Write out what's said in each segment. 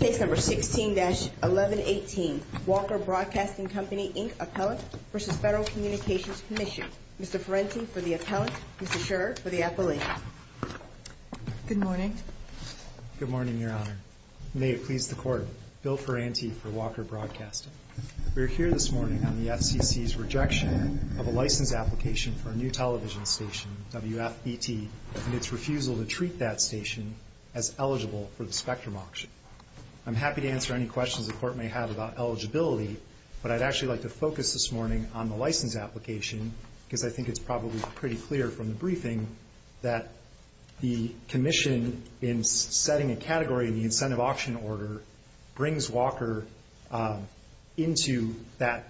Case No. 16-1118 Walker Broadcasting Company, Inc., Appellant v. Federal Communications Commission Mr. Ferranti for the appellant, Mr. Scherer for the appellant Good morning Good morning, Your Honor. May it please the Court, Bill Ferranti for Walker Broadcasting We are here this morning on the FCC's rejection of a license application for a new television station, WFBT and its refusal to treat that station as eligible for the spectrum auction I'm happy to answer any questions the Court may have about eligibility, but I'd actually like to focus this morning on the license application because I think it's probably pretty clear from the briefing that the commission in setting a category in the incentive auction order brings Walker into that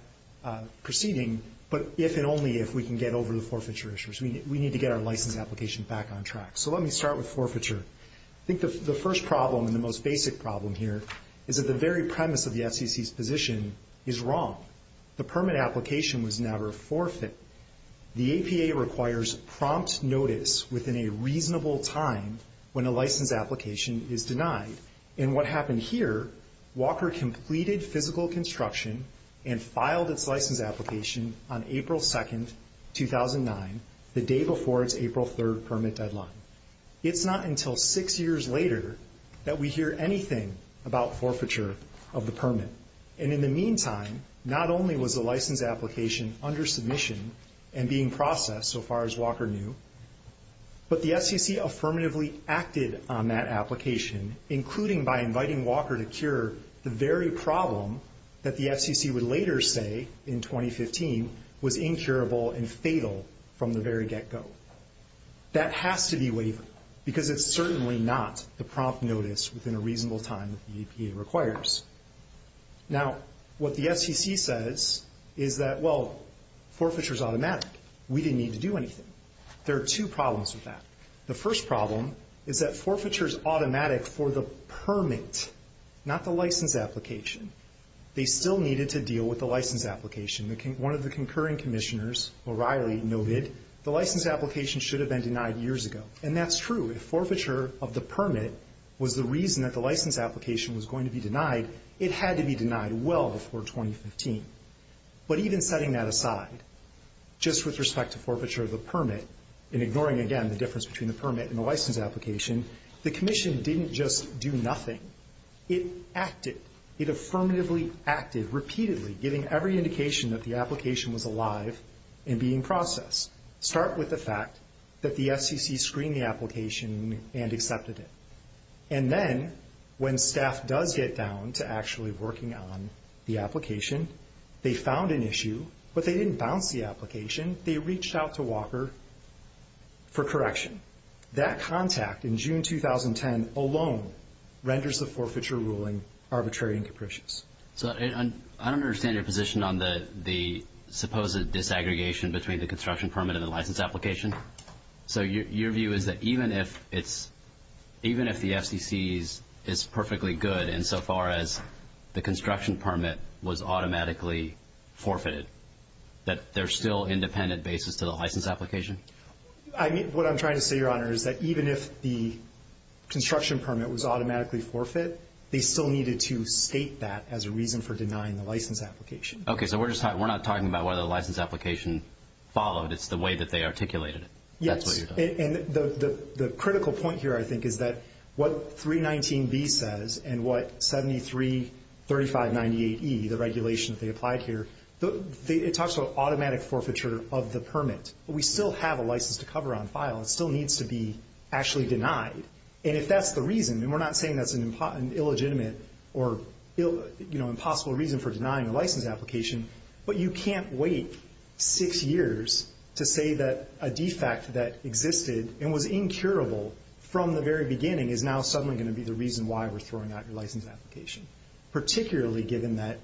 proceeding, but if and only if we can get over the forfeiture issuers we need to get our license application back on track. So let me start with forfeiture I think the first problem and the most basic problem here is that the very premise of the FCC's position is wrong The permit application was never a forfeit The APA requires prompt notice within a reasonable time when a license application is denied And what happened here, Walker completed physical construction and filed its license application on April 2, 2009 the day before its April 3 permit deadline It's not until six years later that we hear anything about forfeiture of the permit And in the meantime, not only was the license application under submission and being processed, so far as Walker knew But the FCC affirmatively acted on that application, including by inviting Walker to cure the very problem that the FCC would later say, in 2015, was incurable and fatal from the very get-go That has to be wavered because it's certainly not the prompt notice within a reasonable time that the APA requires Now, what the FCC says is that, well, forfeiture is automatic We didn't need to do anything There are two problems with that The first problem is that forfeiture is automatic for the permit, not the license application They still needed to deal with the license application One of the concurring commissioners, O'Reilly, noted the license application should have been denied years ago And that's true If forfeiture of the permit was the reason that the license application was going to be denied, it had to be denied well before 2015 But even setting that aside, just with respect to forfeiture of the permit And ignoring, again, the difference between the permit and the license application The commission didn't just do nothing It acted It affirmatively acted, repeatedly, giving every indication that the application was alive and being processed Start with the fact that the FCC screened the application and accepted it And then, when staff does get down to actually working on the application They found an issue, but they didn't bounce the application They reached out to Walker for correction That contact in June 2010 alone renders the forfeiture ruling arbitrary and capricious So, I don't understand your position on the supposed disaggregation between the construction permit and the license application So, your view is that even if the FCC is perfectly good insofar as the construction permit was automatically forfeited That there's still independent basis to the license application? What I'm trying to say, Your Honor, is that even if the construction permit was automatically forfeited They still needed to state that as a reason for denying the license application Okay, so we're not talking about whether the license application followed It's the way that they articulated it Yes, and the critical point here, I think, is that what 319B says and what 733598E, the regulation that they applied here It talks about automatic forfeiture of the permit We still have a license to cover on file It still needs to be actually denied And if that's the reason, and we're not saying that's an illegitimate or impossible reason For denying the license application But you can't wait six years to say that a defect that existed and was incurable from the very beginning Is now suddenly going to be the reason why we're throwing out your license application Particularly given that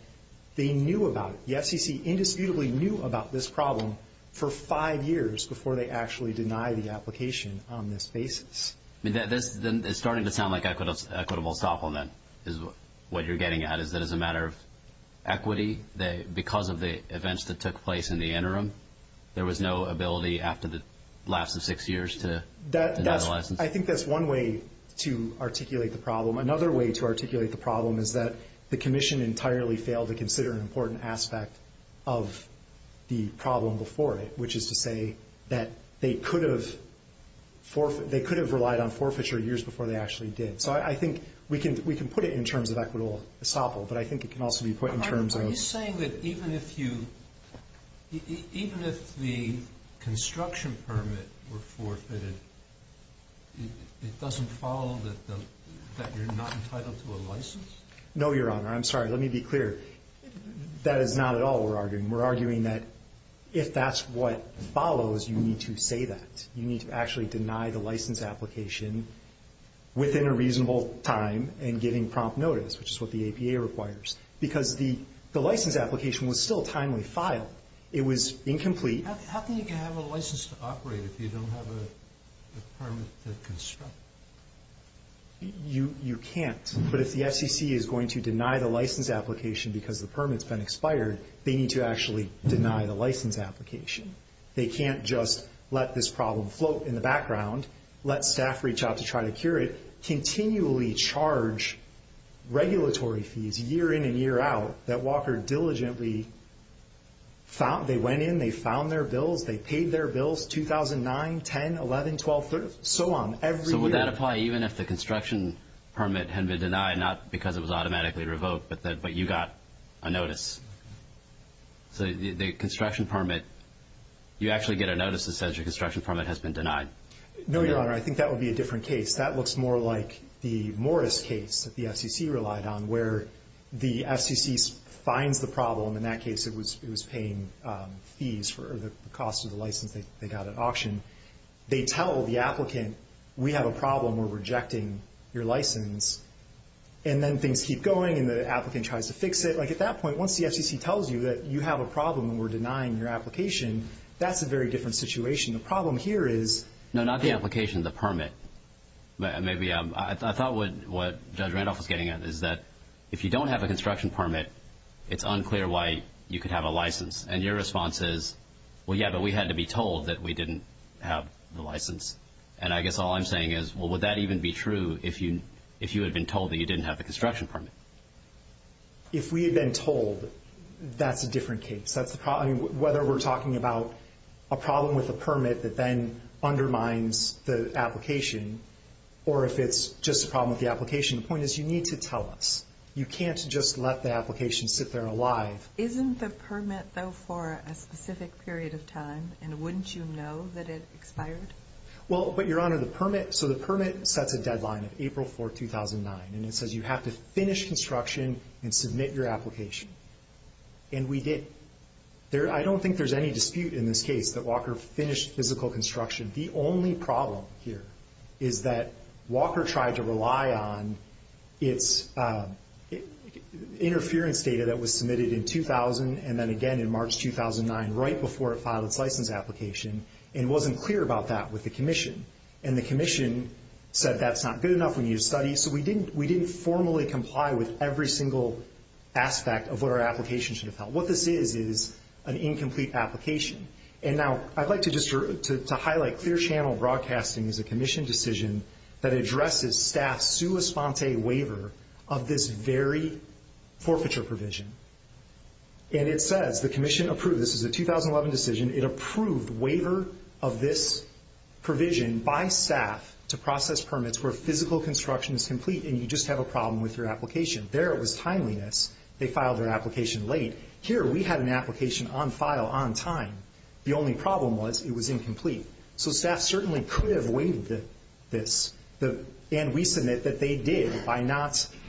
they knew about it The FCC indisputably knew about this problem for five years before they actually denied the application on this basis It's starting to sound like equitable supplement is what you're getting at Is that as a matter of equity, because of the events that took place in the interim There was no ability after the last of six years to deny the license I think that's one way to articulate the problem Another way to articulate the problem is that the commission entirely failed to consider an important aspect of the problem before it Which is to say that they could have relied on forfeiture years before they actually did So I think we can put it in terms of equitable supple, but I think it can also be put in terms of Are you saying that even if the construction permit were forfeited It doesn't follow that you're not entitled to a license? No, your honor, I'm sorry, let me be clear That is not at all what we're arguing We're arguing that if that's what follows, you need to say that You need to actually deny the license application within a reasonable time and giving prompt notice Which is what the APA requires Because the license application was still timely filed It was incomplete How can you have a license to operate if you don't have a permit to construct? You can't But if the FCC is going to deny the license application because the permit's been expired They need to actually deny the license application They can't just let this problem float in the background Let staff reach out to try to cure it Continually charge regulatory fees year in and year out That Walker diligently found They went in, they found their bills, they paid their bills 2009, 10, 11, 12, 13, so on every year So would that apply even if the construction permit had been denied Not because it was automatically revoked, but you got a notice So the construction permit You actually get a notice that says your construction permit has been denied No, your honor, I think that would be a different case That looks more like the Morris case that the FCC relied on Where the FCC finds the problem In that case it was paying fees for the cost of the license they got at auction They tell the applicant, we have a problem We're rejecting your license And then things keep going and the applicant tries to fix it Like at that point, once the FCC tells you that you have a problem And we're denying your application That's a very different situation The problem here is No, not the application, the permit I thought what Judge Randolph was getting at is that If you don't have a construction permit It's unclear why you could have a license Well, yeah, but we had to be told that we didn't have the license And I guess all I'm saying is, would that even be true If you had been told that you didn't have the construction permit? If we had been told, that's a different case Whether we're talking about a problem with a permit That then undermines the application Or if it's just a problem with the application The point is, you need to tell us You can't just let the application sit there alive Isn't the permit, though, for a specific period of time And wouldn't you know that it expired? Well, but, Your Honor, the permit So the permit sets a deadline of April 4, 2009 And it says you have to finish construction And submit your application And we did I don't think there's any dispute in this case That Walker finished physical construction The only problem here Is that Walker tried to rely on Its interference data that was submitted in 2000 And then again in March 2009 Right before it filed its license application And it wasn't clear about that with the commission And the commission said that's not good enough We need to study So we didn't formally comply with every single aspect Of what our application should have held What this is, is an incomplete application And now, I'd like to just highlight Clear channel broadcasting is a commission decision That addresses staff's sua sponte waiver Of this very forfeiture provision And it says, the commission approved This is a 2011 decision It approved waiver of this provision By staff to process permits Where physical construction is complete And you just have a problem with your application There it was timeliness They filed their application late Here we had an application on file, on time The only problem was, it was incomplete So staff certainly could have waived this And we submit that they did By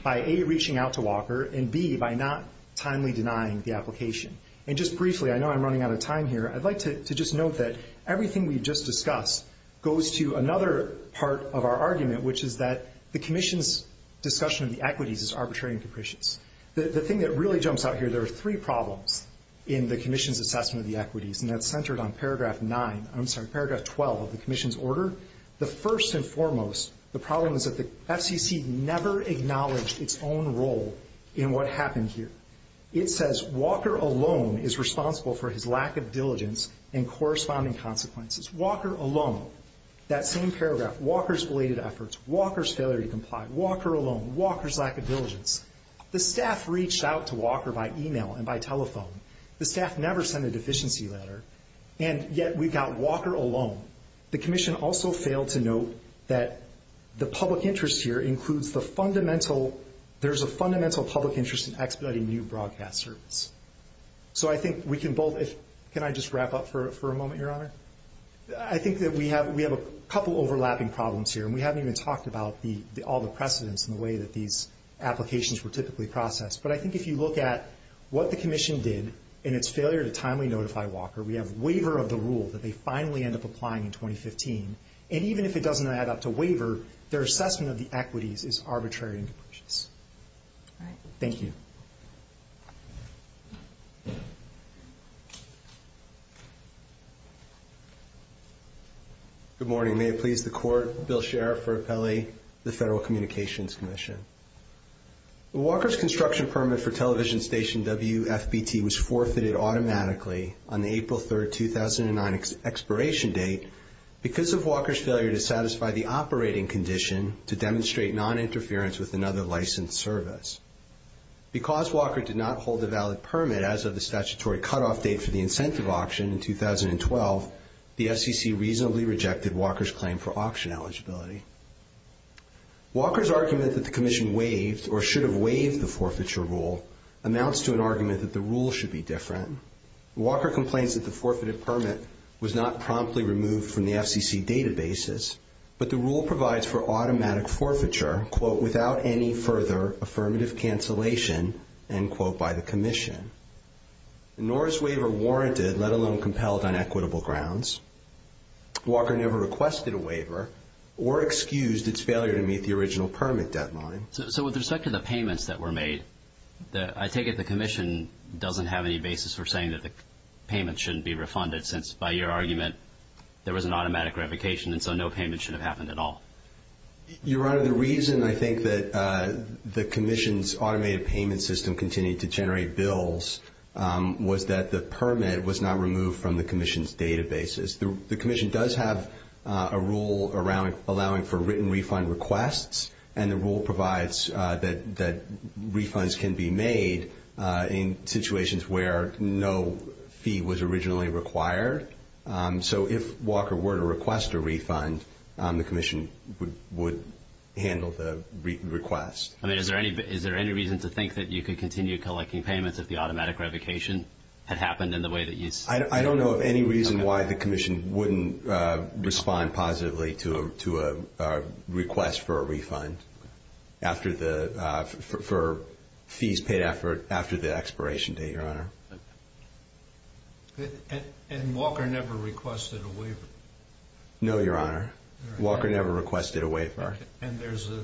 A, reaching out to Walker And B, by not timely denying the application And just briefly, I know I'm running out of time here I'd like to just note that Everything we just discussed Goes to another part of our argument Which is that the commission's discussion of the equities Is arbitrary and capricious The thing that really jumps out here There are three problems In the commission's assessment of the equities And that's centered on paragraph 9 I'm sorry, paragraph 12 of the commission's order The first and foremost The problem is that the FCC Never acknowledged its own role In what happened here It says, Walker alone is responsible For his lack of diligence And corresponding consequences Walker alone That same paragraph Walker's belated efforts Walker's failure to comply Walker alone Walker's lack of diligence The staff reached out to Walker By email and by telephone The staff never sent a deficiency letter And yet we got Walker alone The commission also failed to note That the public interest here Includes the fundamental There's a fundamental public interest In expediting new broadcast service So I think we can both Can I just wrap up for a moment, your honor? I think that we have A couple overlapping problems here And we haven't even talked about All the precedents And the way that these applications Were typically processed But I think if you look at What the commission did In its failure to timely notify Walker We have waiver of the rule That they finally end up applying in 2015 And even if it doesn't add up to waiver Their assessment of the equities Is arbitrary and capricious Thank you Thank you Good morning May it please the court Bill Sherriff for appellate The Federal Communications Commission Walker's construction permit For television station WFBT Was forfeited automatically On the April 3rd, 2009 Expiration date Because of Walker's failure To satisfy the operating condition To demonstrate non-interference With another licensed service Because Walker did not hold a valid permit As of the statutory cutoff date For the incentive auction in 2012 The FCC reasonably rejected Walker's claim for auction eligibility Walker's argument that the commission Waived or should have waived The forfeiture rule Amounts to an argument That the rule should be different Walker complains that the forfeited permit Was not promptly removed From the FCC databases But the rule provides For automatic forfeiture Without any further Affirmative cancellation By the commission Nor is waiver warranted Let alone compelled On equitable grounds Walker never requested a waiver Or excused its failure To meet the original permit deadline So with respect to the payments That were made I take it the commission Doesn't have any basis for saying That the payment shouldn't be refunded Since by your argument There was an automatic revocation And so no payment Should have happened at all Your honor The reason I think That the commission's Automated payment system Continued to generate bills Was that the permit Was not removed From the commission's databases The commission does have A rule around Allowing for written refund requests And the rule provides That refunds can be made In situations where No fee was originally required So if Walker were to request a refund The commission would Handle the request I mean is there any Is there any reason to think That you could continue Collecting payments If the automatic revocation Had happened in the way that you I don't know of any reason Why the commission Wouldn't respond positively To a request for a refund After the For fees paid after After the expiration date Your honor And Walker never requested a waiver No your honor Walker never requested a waiver And there's a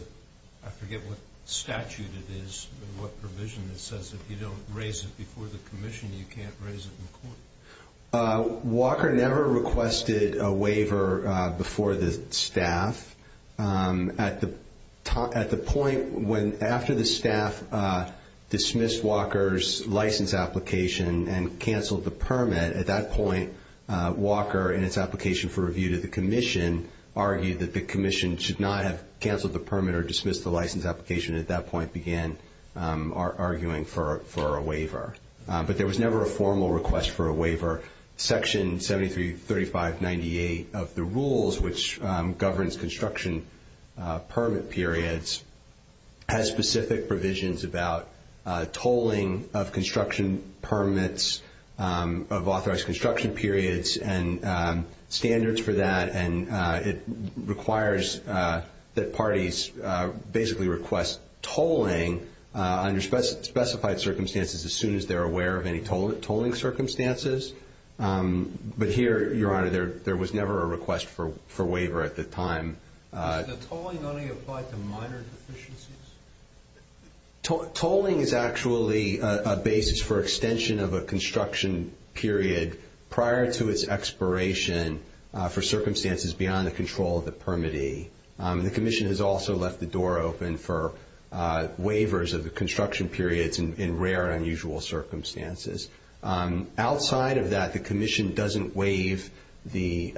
I forget what statute it is What provision that says If you don't raise it Before the commission You can't raise it in court Walker never requested a waiver Before the staff At the point When after the staff Dismissed Walker's license application And canceled the permit At that point Walker in its application For review to the commission Argued that the commission Should not have Canceled the permit Or dismissed the license application At that point began Arguing for a waiver But there was never A formal request for a waiver Section 733598 of the rules Which governs construction Permit periods Has specific provisions about Tolling of construction permits Of authorized construction periods And standards for that And it requires That parties basically request Tolling under specified circumstances As soon as they're aware Of any tolling circumstances But here your honor There was never a request For waiver at the time Does the tolling only apply To minor deficiencies Tolling is actually a basis For extension of a construction period Prior to its expiration For circumstances beyond The control of the permittee The commission has also Left the door open For waivers of the construction periods In rare and unusual circumstances Outside of that The commission doesn't waive The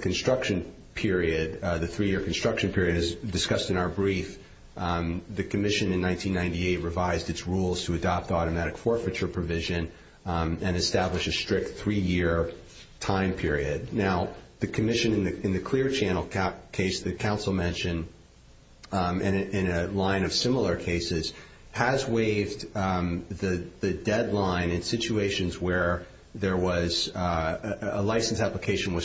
construction period The three year construction period As discussed in our brief The commission in 1998 Revised its rules to adopt Automatic forfeiture provision And establish a strict Three year time period Now the commission In the clear channel case The council mentioned In a line of similar cases Has waived the deadline In situations where Was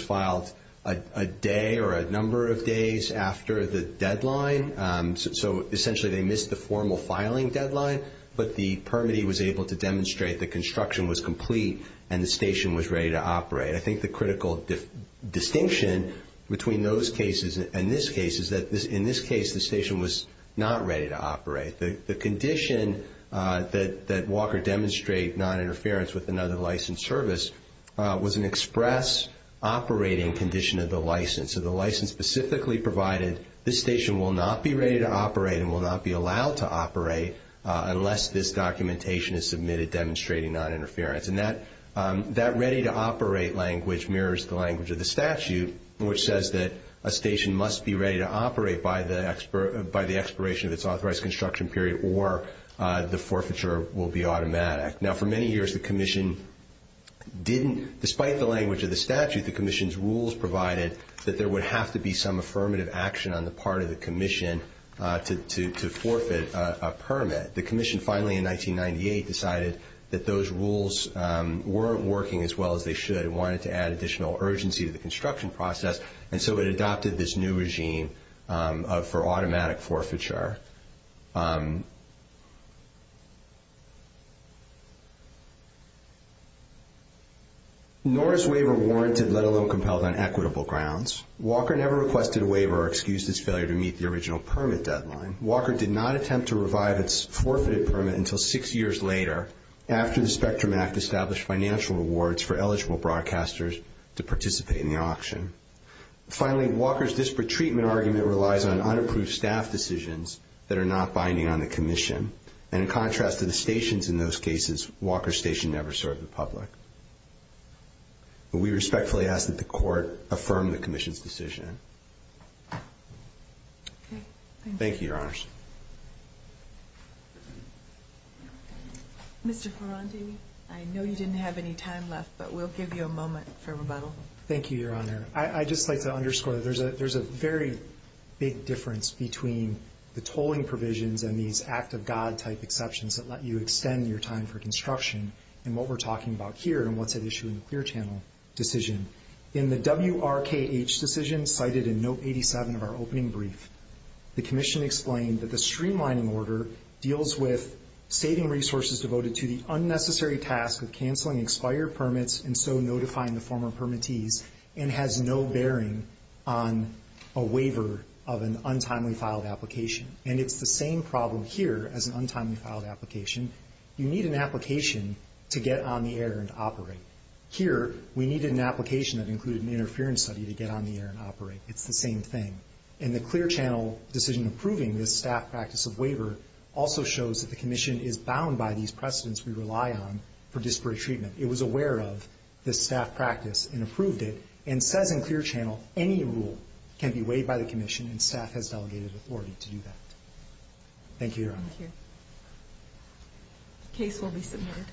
filed a day Or a number of days After the deadline So essentially they missed The formal filing deadline But the permittee Was able to demonstrate The construction was complete And the station was ready to operate I think the critical distinction Between those cases And this case Is that in this case The station was not ready to operate The condition that Walker Demonstrate non-interference With another license service Was an express operating condition Of the license So the license specifically provided This station will not be ready to operate And will not be allowed to operate Unless this documentation is submitted Demonstrating non-interference And that ready to operate language Mirrors the language of the statute Which says that A station must be ready to operate By the expiration Of its authorized construction period Or the forfeiture will be automatic Now for many years The commission didn't Despite the language of the statute The commission's rules provided That there would have to be Some affirmative action On the part of the commission To forfeit a permit The commission finally in 1998 Decided that those rules Weren't working as well as they should And wanted to add additional urgency To the construction process And so it adopted this new regime For automatic forfeiture Nor is waiver warranted Let alone compelled on equitable grounds Walker never requested a waiver Or excused his failure To meet the original permit deadline Walker did not attempt to revive Its forfeited permit Until six years later After the Spectrum Act Established financial rewards For eligible broadcasters To participate in the auction Finally Walker's Disparate treatment argument Relies on unapproved staff decisions That are not binding on the commission And in contrast to the stations In those cases Walker's station never served the public We respectfully ask that the court Affirm the commission's decision Thank you, your honors Mr. Ferrandi I know you didn't have any time left But we'll give you a moment for rebuttal Thank you, your honor I'd just like to underscore There's a very big difference Between the tolling provisions And these act of God type exceptions That let you extend your time for construction And what we're talking about here And what's at issue In the Clear Channel decision In the WRKH decision The commission cited in note 87 Of our opening brief The commission explained That the streamlining order Deals with saving resources Devoted to the unnecessary task Of canceling expired permits And so notifying the former permittees And has no bearing On a waiver Of an untimely filed application And it's the same problem here As an untimely filed application You need an application To get on the air and operate Here we needed an application That included an interference study To get on the air and operate It's the same thing In the Clear Channel decision Approving this staff practice of waiver Also shows that the commission Is bound by these precedents We rely on for disparate treatment It was aware of this staff practice And approved it And says in Clear Channel Any rule can be waived by the commission And staff has delegated authority to do that Thank you, your honor Thank you Case will be submitted